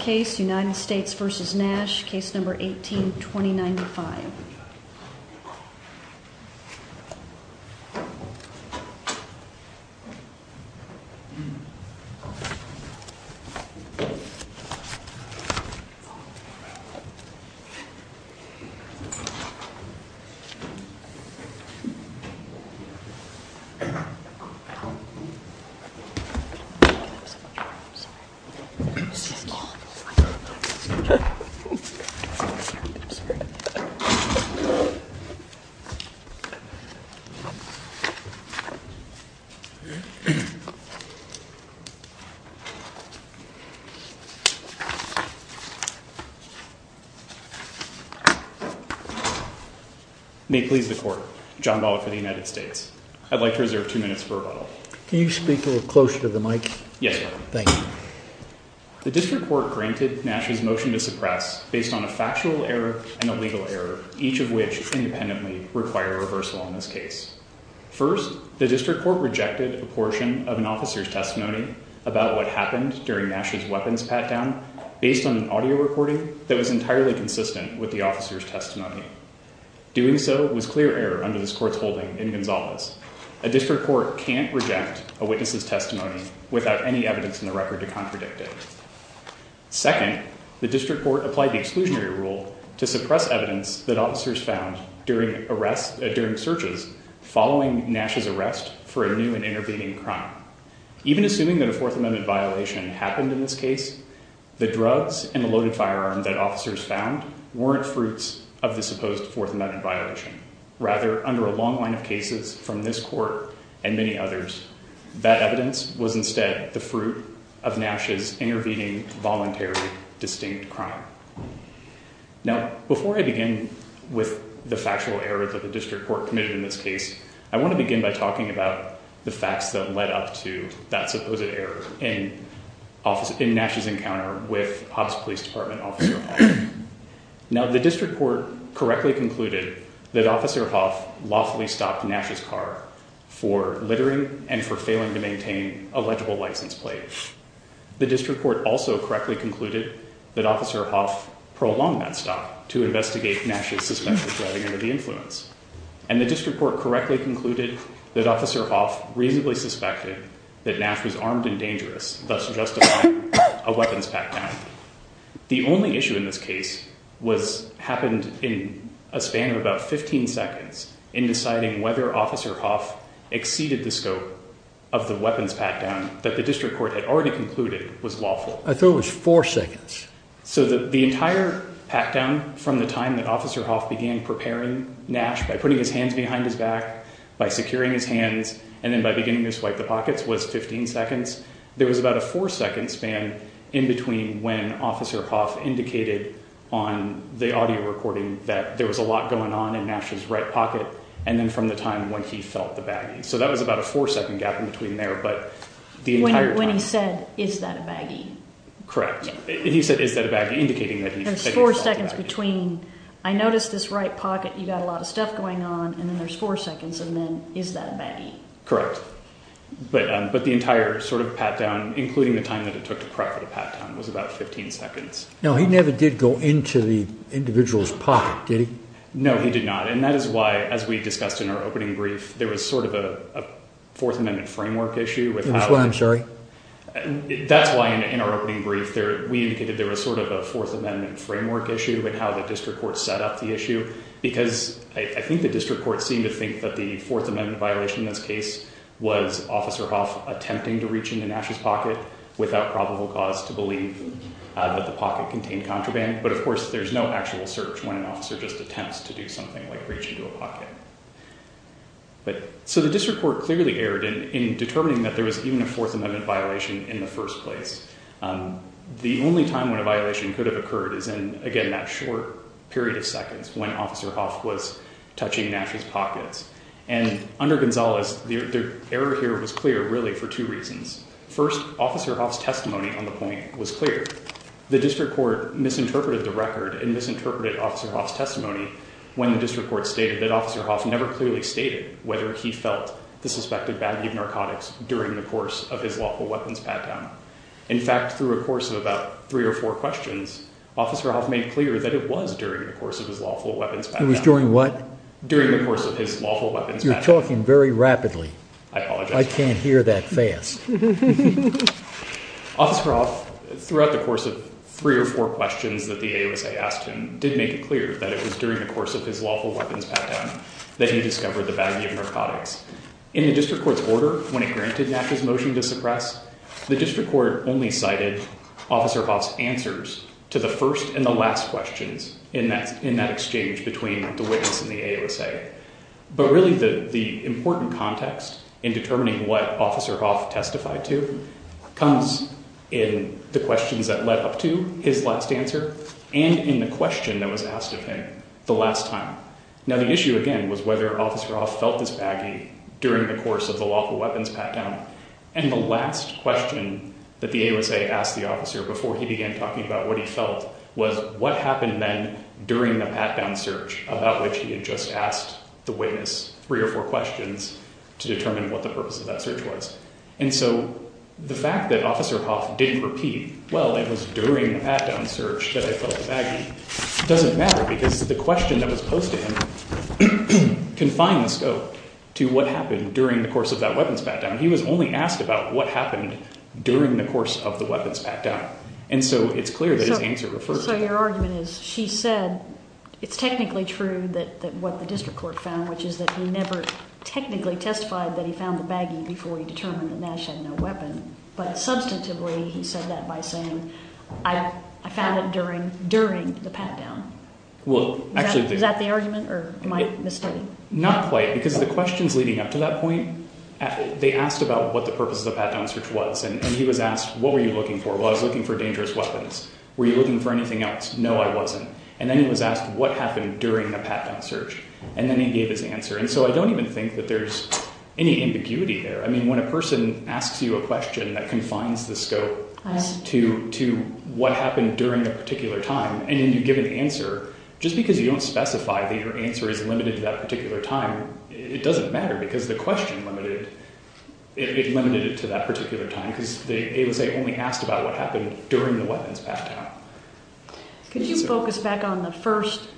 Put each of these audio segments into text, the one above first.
Case No. 18-2095 May it please the Court, John Ballard for the United States. I'd like to reserve two Can you speak a little closer to the mic? Yes, sir. Thank you. The District Court granted Nash's motion to suppress based on a factual error and a legal error, each of which independently require reversal on this case. First, the District Court rejected a portion of an officer's testimony about what happened during Nash's weapons pat-down based on an audio recording that was entirely consistent with the officer's testimony. Doing so was clear error under this Court's holding in Gonzales. A District Court can't reject a witness's testimony without any evidence in the record to contradict it. Second, the District Court applied the exclusionary rule to suppress evidence that officers found during searches following Nash's arrest for a new and intervening crime. Even assuming that a Fourth Amendment violation happened in this case, the drugs and the loaded firearm that officers found weren't fruits of the supposed Fourth Amendment violation. Rather, under a long line of cases from this Court and many others, that evidence was instead the fruit of Nash's intervening voluntary distinct crime. Now, before I begin with the factual error that the District Court committed in this case, I want to begin by talking about the facts that led up to that supposed error in Nash's encounter with Hobbs Police Department Officer Hough. Now, the District Court correctly concluded that Officer Hough lawfully stopped Nash's car for littering and for failing to maintain a legible license plate. The District Court also correctly concluded that Officer Hough prolonged that stop to investigate Nash's suspected driving under the influence. And the District Court correctly concluded that Officer Hough reasonably suspected that Nash was armed and dangerous, thus justifying a weapons pat-down. The only issue in this case happened in a span of about 15 seconds in deciding whether Officer Hough exceeded the scope of the weapons pat-down that the District Court had already concluded was lawful. I thought it was four seconds. So the entire pat-down from the time that Officer Hough began preparing Nash by putting his hands behind his back, by securing his hands, and then by beginning to swipe the baggie, there was about a four-second span in between when Officer Hough indicated on the audio recording that there was a lot going on in Nash's right pocket and then from the time when he felt the baggie. So that was about a four-second gap in between there, but the entire time... When he said, is that a baggie? Correct. He said, is that a baggie, indicating that he felt the baggie. There's four seconds between, I noticed this right pocket, you got a lot of stuff going on, and then there's four seconds, and then, is that a baggie? Correct. But the entire pat-down, including the time that it took to prep for the pat-down, was about 15 seconds. Now, he never did go into the individual's pocket, did he? No, he did not, and that is why, as we discussed in our opening brief, there was a Fourth Amendment framework issue with how... That's why, I'm sorry? That's why, in our opening brief, we indicated there was a Fourth Amendment framework issue with how the District Court set up the issue, because I think the District Court seemed to believe that the Fourth Amendment violation in this case was Officer Hoff attempting to reach into Nash's pocket without probable cause to believe that the pocket contained contraband, but, of course, there's no actual search when an officer just attempts to do something like reach into a pocket. So, the District Court clearly erred in determining that there was even a Fourth Amendment violation in the first place. The only time when a violation could have occurred is in, again, that short period of time, and under Gonzalez, the error here was clear, really, for two reasons. First, Officer Hoff's testimony on the point was clear. The District Court misinterpreted the record and misinterpreted Officer Hoff's testimony when the District Court stated that Officer Hoff never clearly stated whether he felt the suspected value of narcotics during the course of his lawful weapons pat-down. In fact, through a course of about three or four questions, Officer Hoff made clear that it was during the course of his lawful weapons pat-down. It was during what? During the course of his lawful weapons pat-down. You're talking very rapidly. I apologize. I can't hear that fast. Officer Hoff, throughout the course of three or four questions that the AOSA asked him, did make it clear that it was during the course of his lawful weapons pat-down that he discovered the value of narcotics. In the District Court's order, when it granted Nash's motion to suppress, the District Court only cited Officer Hoff's answers to the first and the last questions in that exchange between the witness and the AOSA. But really, the important context in determining what Officer Hoff testified to comes in the questions that led up to his last answer and in the question that was asked of him the last time. Now, the issue, again, was whether Officer Hoff felt this baggy during the course of the lawful weapons pat-down. And the last question that the AOSA asked the officer before he began talking about what he felt was, what happened then during the pat-down search, about which he had just asked the witness three or four questions to determine what the purpose of that search was. And so the fact that Officer Hoff didn't repeat, well, it was during the pat-down search that I felt baggy, doesn't matter because the question that was posed to him confined the scope to what happened during the course of that weapons pat-down. He was only asked about what happened during the course of the weapons pat-down. And so it's clear that his answer referred to that. So your argument is, she said it's technically true that what the district court found, which is that he never technically testified that he found the baggy before he determined that Nash had no weapon. But substantively, he said that by saying, I found it during the pat-down. Well, actually… Is that the argument or am I misstating? Not quite, because the questions leading up to that point, they asked about what the purpose of the pat-down search was. And he was asked, what were you looking for? I was looking for dangerous weapons. Were you looking for anything else? No, I wasn't. And then he was asked, what happened during the pat-down search? And then he gave his answer. And so I don't even think that there's any ambiguity there. I mean, when a person asks you a question that confines the scope to what happened during a particular time, and then you give an answer, just because you don't specify that your answer is limited to that particular time, it doesn't matter because the question limited to that particular time, because they only asked about what happened during the weapons pat-down. Could you focus back on the first…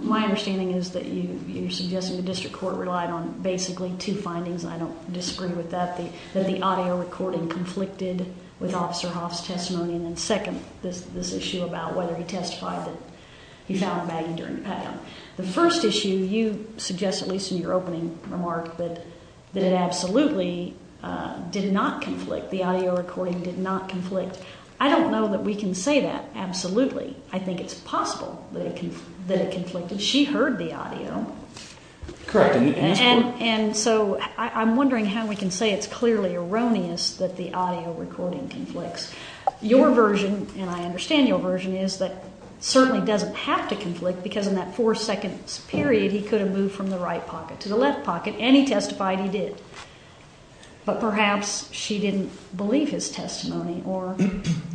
My understanding is that you're suggesting the district court relied on basically two findings. I don't disagree with that, that the audio recording conflicted with Officer Hoff's testimony. And then second, this issue about whether he testified that he found a baggie during the pat-down. The first issue you suggest, at least in your opening remark, that it absolutely did not conflict. The audio recording did not conflict. I don't know that we can say that absolutely. I think it's possible that it conflicted. She heard the audio. Correct. And so I'm wondering how we can say it's clearly erroneous that the audio recording conflicts. Your version, and I understand your version, is that it certainly doesn't have to conflict because in that four-second period, he could have moved from the right pocket to the left pocket, and he testified he did. But perhaps she didn't believe his testimony. Or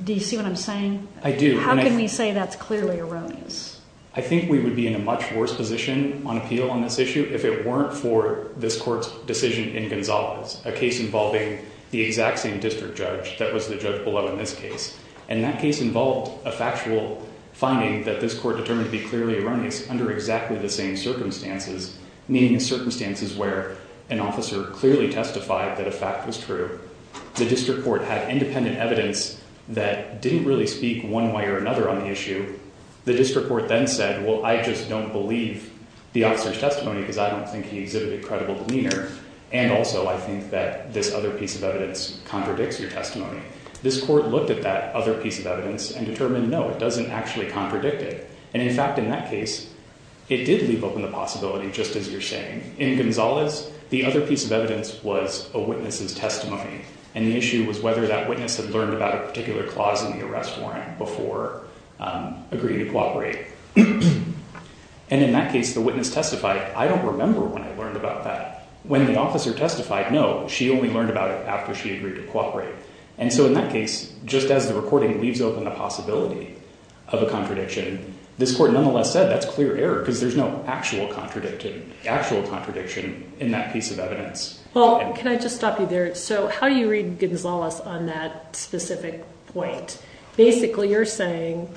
do you see what I'm saying? I do. How can we say that's clearly erroneous? I think we would be in a much worse position on appeal on this issue if it weren't for this court's decision in Gonzales, a case involving the exact same district judge that was the judge below in this case. And that case involved a factual finding that this court determined to be clearly erroneous under exactly the same circumstances, meaning the circumstances where an officer clearly testified that a fact was true. The district court had independent evidence that didn't really speak one way or another on the issue. The district court then said, well, I just don't believe the officer's testimony because I don't think he exhibited credible demeanor. This court looked at that other piece of evidence and determined, no, it doesn't actually contradict it. And in fact, in that case, it did leave open the possibility, just as you're saying. In Gonzales, the other piece of evidence was a witness's testimony. And the issue was whether that witness had learned about a particular clause in the arrest warrant before agreeing to cooperate. And in that case, the witness testified, I don't remember when I learned about that. When the officer testified, no, she only learned about it after she agreed to cooperate. And so in that case, just as the recording leaves open the possibility of a contradiction, this court nonetheless said that's clear error because there's no actual contradiction in that piece of evidence. Well, can I just stop you there? So how do you read Gonzales on that specific point? Basically, you're saying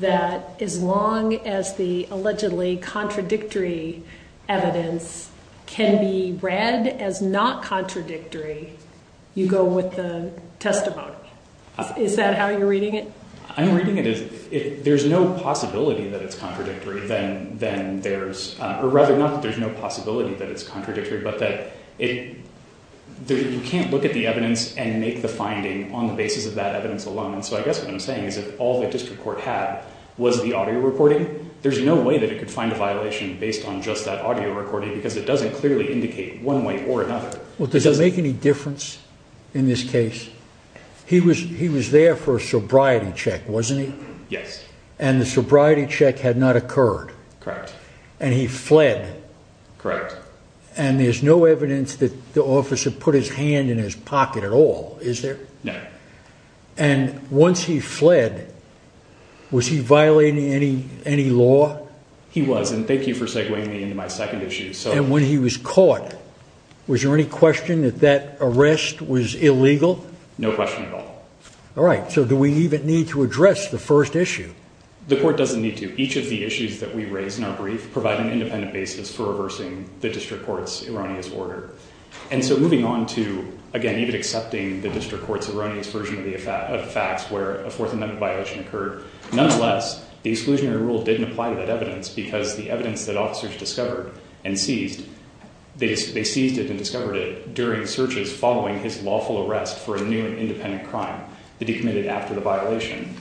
that as long as the allegedly contradictory evidence can be read as not contradictory, you go with the testimony. Is that how you're reading it? I'm reading it as if there's no possibility that it's contradictory, then there's, or rather, not that there's no possibility that it's contradictory, but that you can't look at the evidence and make the finding on the basis of that evidence alone. And so I guess what I'm saying is if all the district court had was the audio recording, there's no way that it could find a violation based on just that audio recording because it doesn't clearly indicate one way or another. Well, does it make any difference in this case? He was there for a sobriety check, wasn't he? Yes. And the sobriety check had not occurred. Correct. And he fled. Correct. And there's no evidence that the officer put his hand in his pocket at all, is there? No. And once he fled, was he violating any law? He was. And thank you for segwaying me into my second issue. And when he was caught, was there any question that that arrest was illegal? No question at all. All right. So do we even need to address the first issue? The court doesn't need to. Each of the issues that we raised in our brief provide an independent basis for reversing the district court's erroneous order. And so moving on to, again, even accepting the district court's erroneous version of facts where a Fourth Amendment violation occurred, nonetheless, the exclusionary rule didn't apply to that evidence because the evidence that officers discovered and seized, they seized it and discovered it during searches following his lawful arrest for a new and independent crime that he committed after the violation.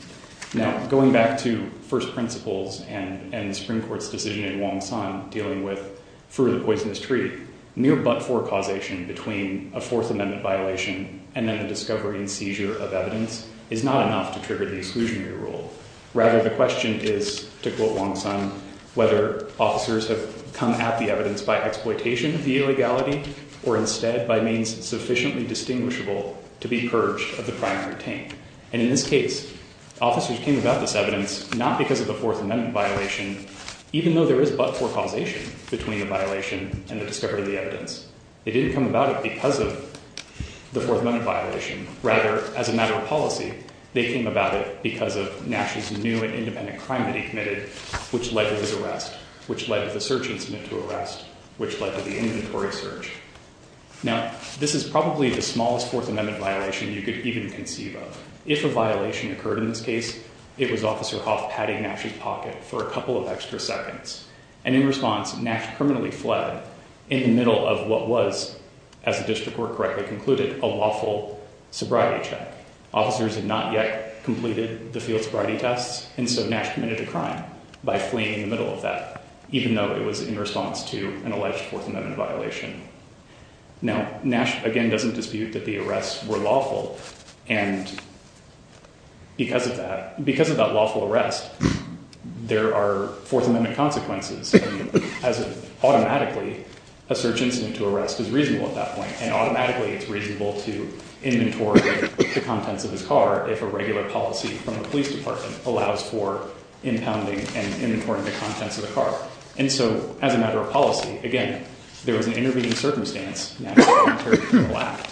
Now, going back to first principles and the Supreme Court's decision in Wong San dealing with Fruit of the Poisonous Tree, near but-for causation between a Fourth Amendment violation and then the discovery and seizure of evidence is not enough to trigger the exclusionary rule. Rather, the question is, to quote Wong San, whether officers have come at the evidence by exploitation of the illegality or instead by means sufficiently distinguishable to be purged of the crime retained. And in this case, officers came about this evidence not because of the Fourth Amendment violation, even though there is but-for causation between the violation and the discovery of the evidence. They didn't come about it because of the Fourth Amendment violation. Rather, as a matter of policy, they came about it because of Nash's new and independent crime that he committed, which led to his arrest, which led to the search incident to arrest, which led to the inventory search. Now, this is probably the smallest Fourth Amendment violation you could even conceive of. If a violation occurred in this case, it was Officer Hoff patting Nash's pocket for a couple of extra seconds. And in response, Nash criminally fled in the middle of what was, as the district court correctly concluded, a lawful sobriety check. Officers had not yet completed the field sobriety tests, and so Nash committed a crime by fleeing in the middle of that, even though it was in response to an alleged Fourth Amendment violation. Now, Nash, again, doesn't dispute that the arrests were lawful. And because of that, because of that lawful arrest, there are Fourth Amendment consequences. As of automatically, a search incident to arrest is reasonable at that point, and automatically it's reasonable to inventory the contents of his car if a regular policy from the police department allows for impounding and inventorying the contents of the car. And so as a matter of policy, again, there was an intervening circumstance, Nash's voluntary criminal act,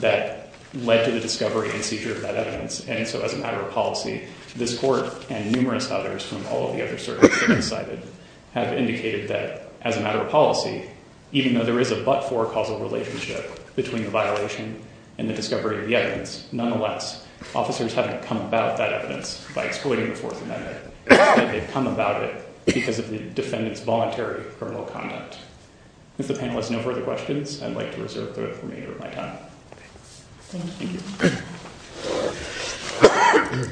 that led to the discovery and seizure of that evidence. And so as a matter of policy, this court and numerous others from all of the other courts that have cited have indicated that, as a matter of policy, even though there is a but-for causal relationship between the violation and the discovery of the evidence, nonetheless, officers haven't come about that evidence by exploiting the Fourth Amendment, that they've come about it because of the defendant's voluntary criminal conduct. If the panel has no further questions, I'd like to reserve the remainder of my time. Thank you.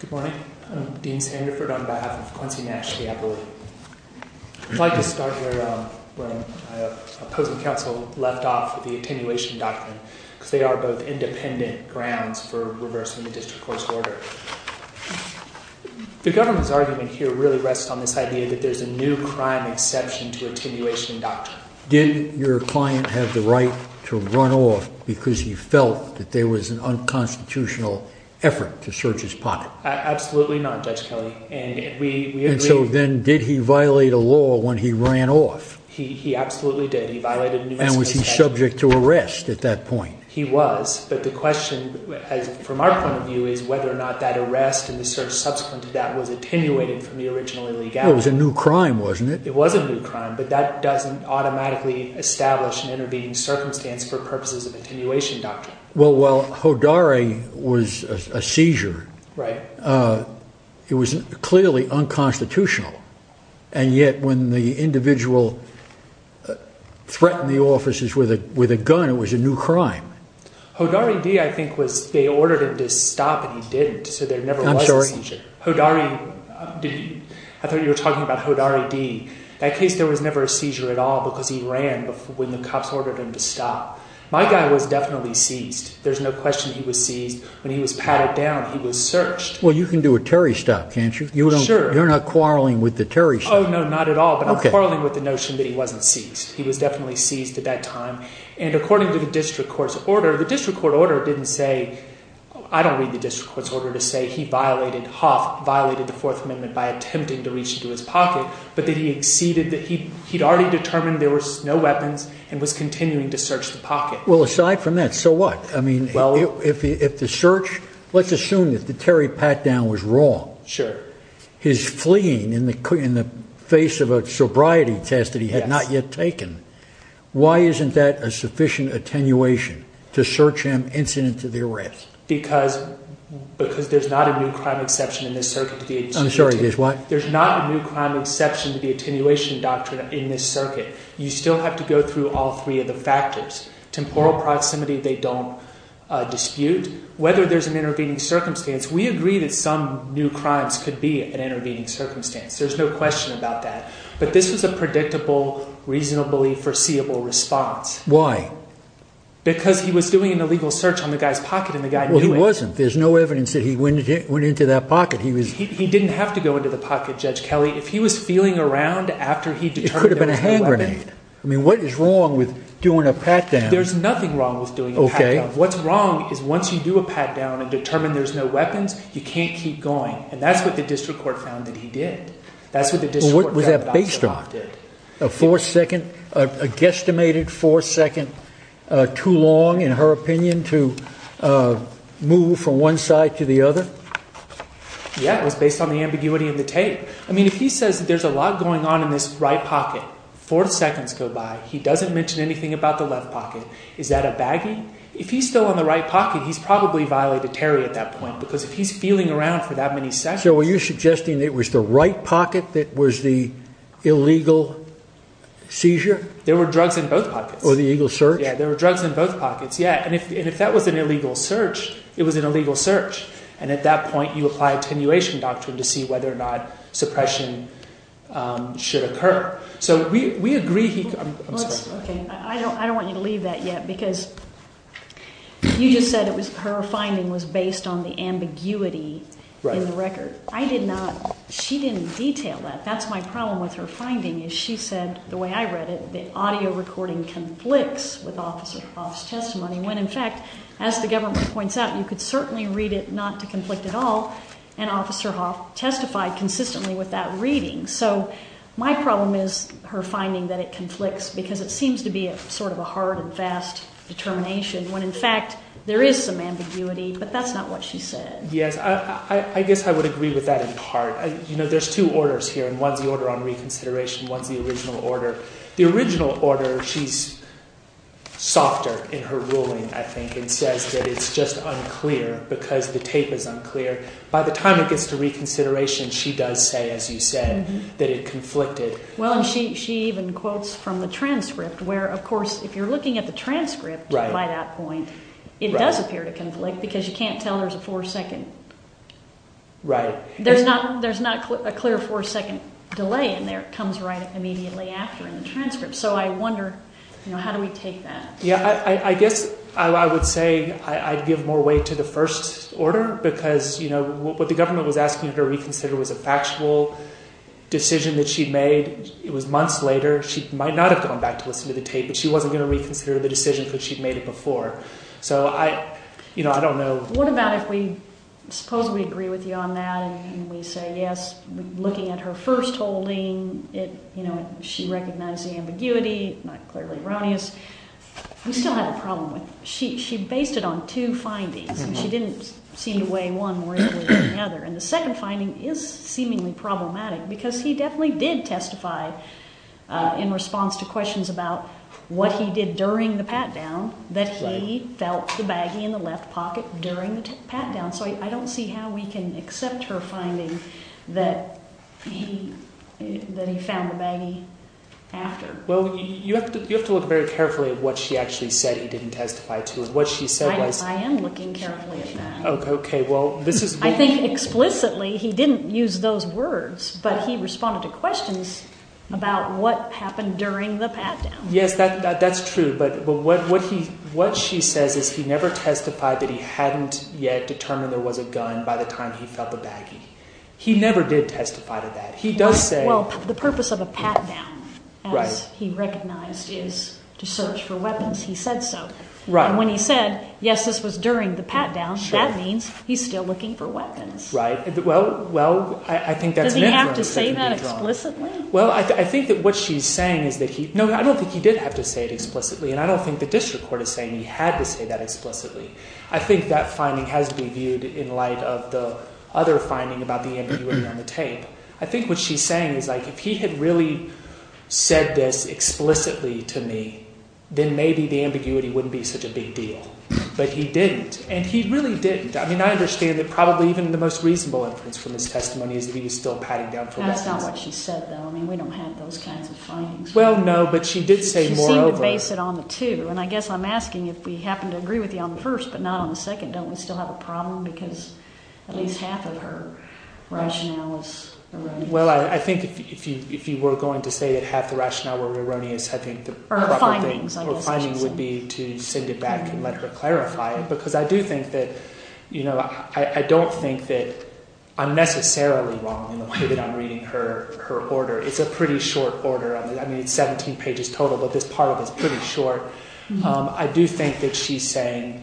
Good morning. I'm Dean Sandiford on behalf of Quincy Nash, the appellate. I'd like to start where my opposing counsel left off with the attenuation doctrine, because they are both independent grounds for reversing the district court's order. The government's argument here really rests on this idea that there's a new crime exception to attenuation doctrine. Did your client have the right to run off because he felt that there was an unconstitutional effort to search his pocket? Absolutely not, Judge Kelly. And we agree. And so then, did he violate a law when he ran off? He absolutely did. He violated a New Mexico statute. And was he subject to arrest at that point? He was. But the question, from our point of view, is whether or not that arrest and the search subsequent to that was attenuated from the original illegality. It was a new crime, wasn't it? It was a new crime. But that doesn't automatically establish an intervening circumstance for purposes of attenuation doctrine. Well, while Hodari was a seizure, it was clearly unconstitutional. And yet, when the individual threatened the officers with a gun, it was a new crime. Hodari D., I think, was they ordered him to stop and he didn't. So there never was a seizure. I'm sorry? Hodari D., I thought you were talking about Hodari D. That case, there was never a seizure at all because he ran when the cops ordered him to stop. My guy was definitely seized. There's no question he was seized. When he was patted down, he was searched. Well, you can do a Terry stop, can't you? Sure. You're not quarreling with the Terry stop? Oh, no, not at all. But I'm quarreling with the notion that he wasn't seized. He was definitely seized at that time. And according to the district court's order, the district court order didn't say, I don't read the district court's order to say he violated, Hough violated the Fourth Amendment by attempting to reach into his pocket, but that he exceeded, that he'd already determined there was no weapons and was continuing to search the pocket. Well, aside from that, so what? I mean, if the search, let's assume that the Terry pat down was wrong. Sure. His fleeing in the face of a sobriety test that he had not yet taken. Why isn't that a sufficient attenuation to search him incident to the arrest? Because there's not a new crime exception in this circuit. I'm sorry, there's what? There's not a new crime exception to the attenuation doctrine in this circuit. You still have to go through all three of the factors. Temporal proximity, they don't dispute. Whether there's an intervening circumstance, we agree that some new crimes could be an intervening circumstance. There's no question about that. But this was a predictable, reasonably foreseeable response. Why? Because he was doing an illegal search on the guy's pocket and the guy knew it. Well, he wasn't. There's no evidence that he went into that pocket. He didn't have to go into the pocket, Judge Kelly. If he was feeling around after he determined there was no weapons. It could have been a hand grenade. I mean, what is wrong with doing a pat down? There's nothing wrong with doing a pat down. What's wrong is once you do a pat down and determine there's no weapons, you can't keep going. And that's what the district court found that he did. That's what the district court found that he did. Was that based on a fourth second, a guesstimated fourth second too long, in her opinion, to move from one side to the other? Yeah, it was based on the ambiguity of the tape. I mean, if he says that there's a lot going on in this right pocket, four seconds go by, he doesn't mention anything about the left pocket. Is that a baggy? If he's still on the right pocket, he's probably violated Terry at that point, because if he's feeling around for that many seconds. Were you suggesting it was the right pocket that was the illegal seizure? There were drugs in both pockets. Or the illegal search? Yeah, there were drugs in both pockets. Yeah. And if that was an illegal search, it was an illegal search. And at that point, you apply attenuation doctrine to see whether or not suppression should occur. So we agree. I don't want you to leave that yet, because you just said it was her finding was based on the ambiguity in the record. I did not. She didn't detail that. That's my problem with her finding, is she said, the way I read it, the audio recording conflicts with Officer Hoff's testimony, when, in fact, as the government points out, you could certainly read it not to conflict at all, and Officer Hoff testified consistently with that reading. So my problem is her finding that it conflicts, because it seems to be sort of a hard and Yes, I guess I would agree with that in part. You know, there's two orders here, and one's the order on reconsideration, one's the original order. The original order, she's softer in her ruling, I think, and says that it's just unclear, because the tape is unclear. By the time it gets to reconsideration, she does say, as you said, that it conflicted. Well, and she even quotes from the transcript, where, of course, if you're looking at the transcript by that point, it does appear to conflict, because you can't tell there's a four-second. Right. There's not a clear four-second delay in there. It comes right immediately after in the transcript. So I wonder, you know, how do we take that? Yeah, I guess I would say I'd give more weight to the first order, because, you know, what the government was asking her to reconsider was a factual decision that she'd made. It was months later. She might not have gone back to listen to the tape, but she wasn't going to reconsider the decision, because she'd made it before. So I, you know, I don't know. What about if we, suppose we agree with you on that, and we say, yes, looking at her first holding, it, you know, she recognized the ambiguity, not clearly erroneous. We still have a problem with, she based it on two findings, and she didn't seem to weigh one more importantly than the other. And the second finding is seemingly problematic, because he definitely did testify in response to questions about what he did during the pat-down, that he felt the baggie in the left pocket during the pat-down. So I don't see how we can accept her finding that he, that he found the baggie after. Well, you have to look very carefully at what she actually said he didn't testify to, and what she said was... I am looking carefully at that. Okay, well, this is... I think explicitly he didn't use those words, but he responded to questions about what happened during the pat-down. Yes, that's true, but what he, what she says is he never testified that he hadn't yet determined there was a gun by the time he felt the baggie. He never did testify to that. He does say... Well, the purpose of a pat-down, as he recognized, is to search for weapons. He said so. Right. And when he said, yes, this was during the pat-down, that means he's still looking for weapons. Right. Well, well, I think that's... Does he have to say that explicitly? Well, I think that what she's saying is that he... No, I don't think he did have to say it explicitly, and I don't think the district court is saying he had to say that explicitly. I think that finding has to be viewed in light of the other finding about the ambiguity on the tape. I think what she's saying is, like, if he had really said this explicitly to me, then maybe the ambiguity wouldn't be such a big deal, but he didn't, and he really didn't. I mean, I understand that probably even the most reasonable inference from his testimony is that he was still patting down for weapons. That's not what she said, though. I mean, we don't have those kinds of findings. Well, no, but she did say, moreover... She seemed to base it on the two. And I guess I'm asking, if we happen to agree with you on the first, but not on the second, don't we still have a problem? Because at least half of her rationale is erroneous. Well, I think if you were going to say that half the rationale were erroneous, I think the proper thing... Or findings, I guess. Or findings would be to send it back and let her clarify it. Because I do think that, you know, I don't think that I'm necessarily wrong in the way I'm reading her order. It's a pretty short order. I mean, it's 17 pages total, but this part of it's pretty short. I do think that she's saying,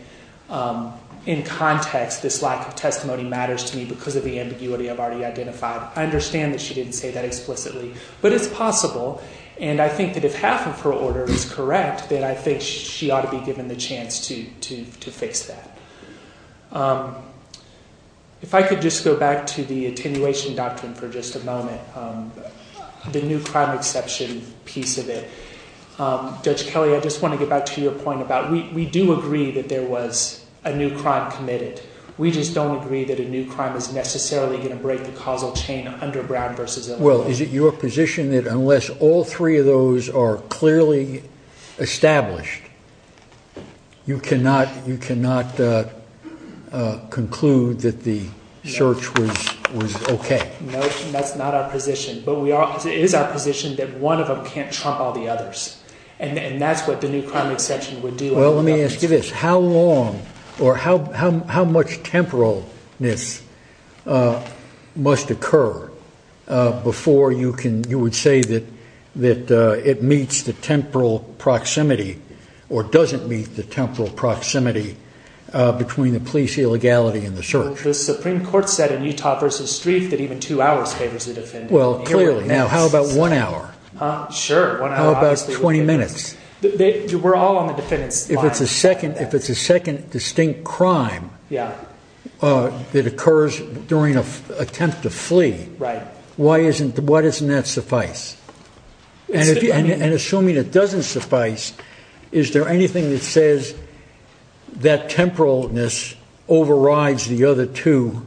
in context, this lack of testimony matters to me because of the ambiguity I've already identified. I understand that she didn't say that explicitly, but it's possible. And I think that if half of her order is correct, then I think she ought to be given the chance to fix that. If I could just go back to the attenuation doctrine for just a moment, the new crime exception piece of it. Judge Kelly, I just want to get back to your point about we do agree that there was a new crime committed. We just don't agree that a new crime is necessarily going to break the causal chain underground versus... Well, is it your position that unless all three of those are clearly established, you cannot conclude that the search was okay? No, that's not our position. But it is our position that one of them can't trump all the others, and that's what the new crime exception would do. Well, let me ask you this. How long or how much temporalness must occur before you would say that it meets the temporal proximity between the police illegality and the search? The Supreme Court said in Utah versus Streef that even two hours favors the defendant. Well, clearly. Now, how about one hour? Sure. How about 20 minutes? We're all on the defendant's side. If it's a second distinct crime that occurs during an attempt to flee, why doesn't that suffice? And assuming it doesn't suffice, is there anything that says that temporalness overrides the other two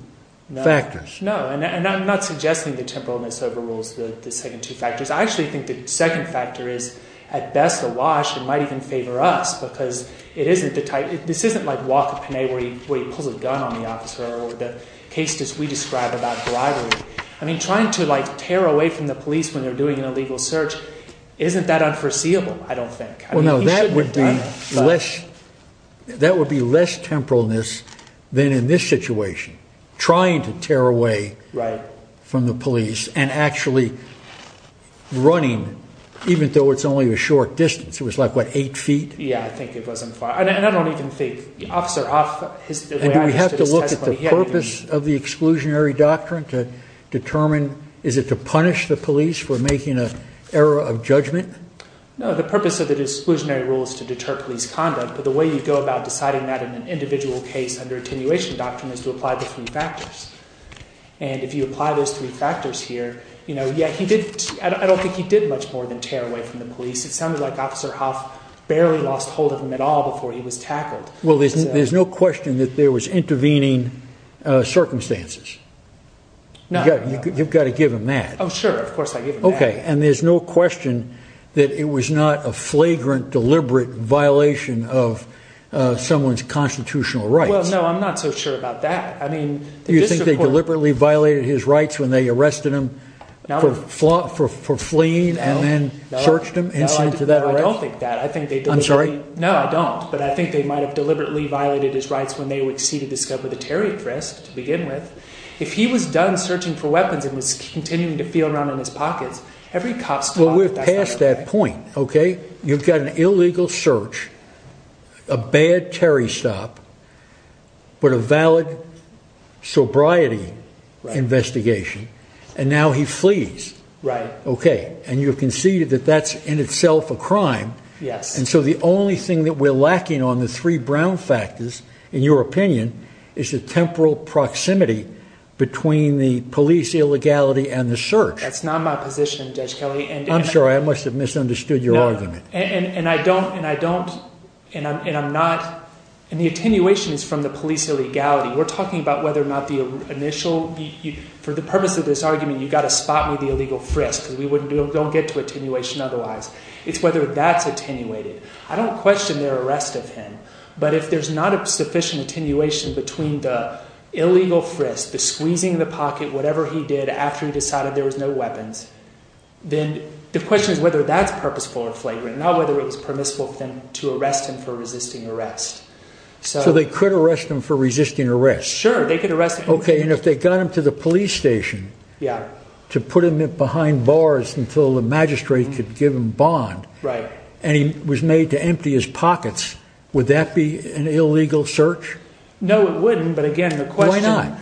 factors? No, and I'm not suggesting that temporalness overrules the second two factors. I actually think the second factor is, at best, a wash. It might even favor us, because this isn't like Waka Penne, where he pulls a gun on the officer, or the case that we describe about bribery. Trying to tear away from the police when they're doing an illegal search isn't that unforeseeable, I don't think. That would be less temporalness than in this situation, trying to tear away from the police and actually running, even though it's only a short distance. It was like, what, eight feet? Yeah, I think it wasn't far. And I don't even think Officer Huff, the way I understood his testimony, he hadn't even— Is it to punish the police for making an error of judgment? No, the purpose of the Disclusionary Rule is to deter police conduct. But the way you go about deciding that in an individual case under attenuation doctrine is to apply the three factors. And if you apply those three factors here, I don't think he did much more than tear away from the police. It sounded like Officer Huff barely lost hold of him at all before he was tackled. Well, there's no question that there was intervening circumstances. No, no. You've got to give him that. Oh, sure. Of course, I give him that. OK. And there's no question that it was not a flagrant, deliberate violation of someone's constitutional rights. Well, no, I'm not so sure about that. I mean, the district court— Do you think they deliberately violated his rights when they arrested him for fleeing and then searched him? No, no, I don't think that. I think they deliberately— I'm sorry? No, I don't. But I think they might have deliberately violated his rights when they exceeded the to begin with. If he was done searching for weapons and was continuing to feel around in his pockets, every cop— Well, we're past that point, OK? You've got an illegal search, a bad Terry stop, but a valid sobriety investigation. And now he flees. Right. OK. And you conceded that that's in itself a crime. Yes. And so the only thing that we're lacking on the three brown factors, in your opinion, is the temporal proximity between the police illegality and the search. That's not my position, Judge Kelly. I'm sorry. I must have misunderstood your argument. And I don't—and I'm not—and the attenuation is from the police illegality. We're talking about whether or not the initial—for the purpose of this argument, you've got to spot me the illegal frisk because we don't get to attenuation otherwise. It's whether that's attenuated. I don't question their arrest of him. But if there's not a sufficient attenuation between the illegal frisk, the squeezing the pocket, whatever he did after he decided there was no weapons, then the question is whether that's purposeful or flagrant, not whether it was permissible for them to arrest him for resisting arrest. So they could arrest him for resisting arrest. Sure. They could arrest him. OK. And if they got him to the police station— Yeah. —to put him behind bars until the magistrate could give him bond— Right. —and he was made to empty his pockets, would that be an illegal search? No, it wouldn't. But again, the question— Why not?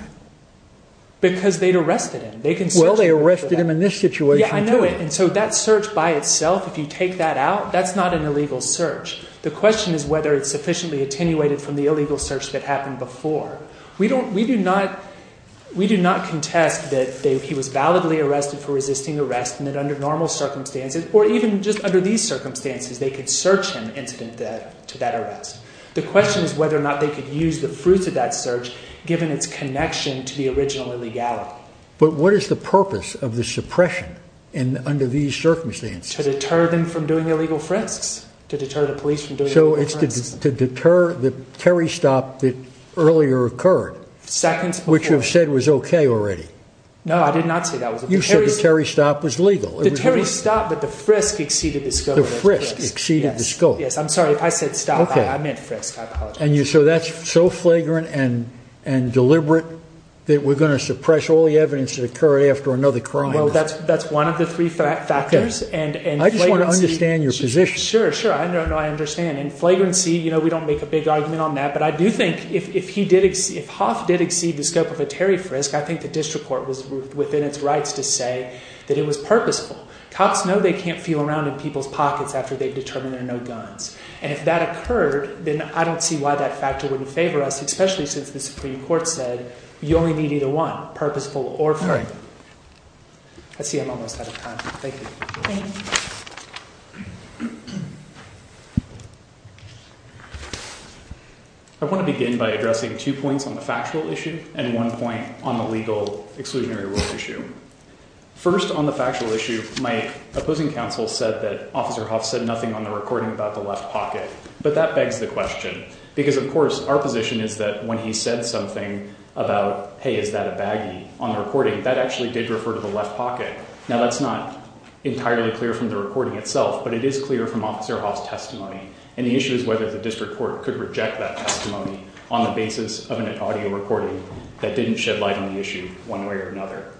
Because they'd arrested him. They can search him for that. Well, they arrested him in this situation, too. Yeah, I know it. And so that search by itself, if you take that out, that's not an illegal search. The question is whether it's sufficiently attenuated from the illegal search that happened before. We don't—we do not—we do not contest that he was validly arrested for resisting arrest and that under normal circumstances, or even just under these circumstances, they could search him incident to that arrest. The question is whether or not they could use the fruits of that search, given its connection to the original illegality. But what is the purpose of the suppression under these circumstances? To deter them from doing illegal frisks, to deter the police from doing illegal frisks. So it's to deter the Terry stop that earlier occurred— Seconds before— —which you've said was OK already. No, I did not say that was— You said the Terry stop was legal. The Terry stop, but the frisk exceeded the scope of the frisk. The frisk exceeded the scope. Yes, I'm sorry. I said stop. I meant frisk. I apologize. And you—so that's so flagrant and deliberate that we're going to suppress all the evidence that occurred after another crime? Well, that's one of the three factors. And flagrancy— I just want to understand your position. Sure, sure. No, I understand. And flagrancy, you know, we don't make a big argument on that. But I do think if he did—if Hoff did exceed the scope of a Terry frisk, I think the district within its rights to say that it was purposeful. Cops know they can't feel around in people's pockets after they've determined there are no guns. And if that occurred, then I don't see why that factor wouldn't favor us, especially since the Supreme Court said you only need either one, purposeful or free. I see I'm almost out of time. Thank you. I want to begin by addressing two points on the factual issue and one point on the legal exclusionary rules issue. First, on the factual issue, my opposing counsel said that Officer Hoff said nothing on the recording about the left pocket. But that begs the question. Because, of course, our position is that when he said something about, hey, is that a baggie on the recording, that actually did refer to the left pocket. Now, that's not entirely clear from the recording itself, but it is clear from Officer Hoff's testimony. And the issue is whether the district court could reject that testimony on the basis of one way or another.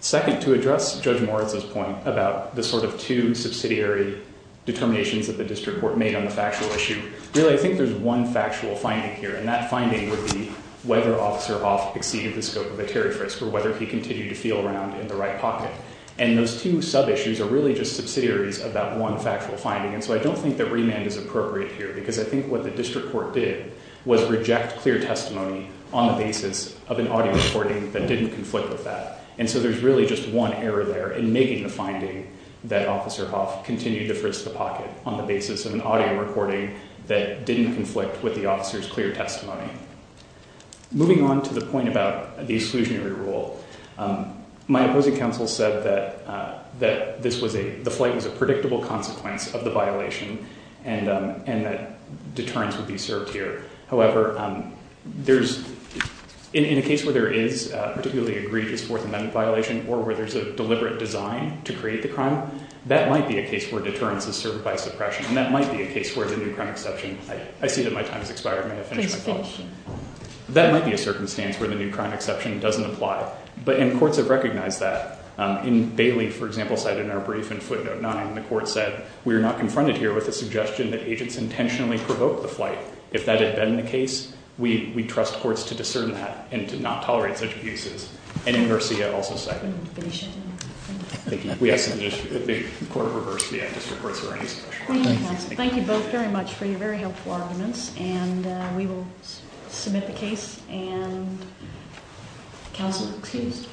Second, to address Judge Moritz's point about the sort of two subsidiary determinations that the district court made on the factual issue, really, I think there's one factual finding here. And that finding would be whether Officer Hoff exceeded the scope of a tariff risk or whether he continued to feel around in the right pocket. And those two sub-issues are really just subsidiaries of that one factual finding. And so I don't think that remand is appropriate here. Because I think what the district court did was reject clear testimony on the basis of an audio recording that didn't conflict with that. And so there's really just one error there in making the finding that Officer Hoff continued to frisk the pocket on the basis of an audio recording that didn't conflict with the officer's clear testimony. Moving on to the point about the exclusionary rule, my opposing counsel said that the flight was a predictable consequence of the violation and that deterrence would be served here. However, in a case where there is a particularly egregious Fourth Amendment violation or where there's a deliberate design to create the crime, that might be a case where deterrence is served by suppression. And that might be a case where the new crime exception, I see that my time has expired. I'm going to finish my talk. Please finish. That might be a circumstance where the new crime exception doesn't apply. But courts have recognized that. In Bailey, for example, cited in our brief in footnote 9, the court said, we are not confronted here with a suggestion that agents intentionally provoke the flight. If that had been the case, we trust courts to discern that and to not tolerate such abuses. And in Murcia, also cited. I'm going to finish. We ask that the court reverse the anticipatory suppression. Thank you both very much for your very helpful arguments. And we will submit the case. And counsel, excused.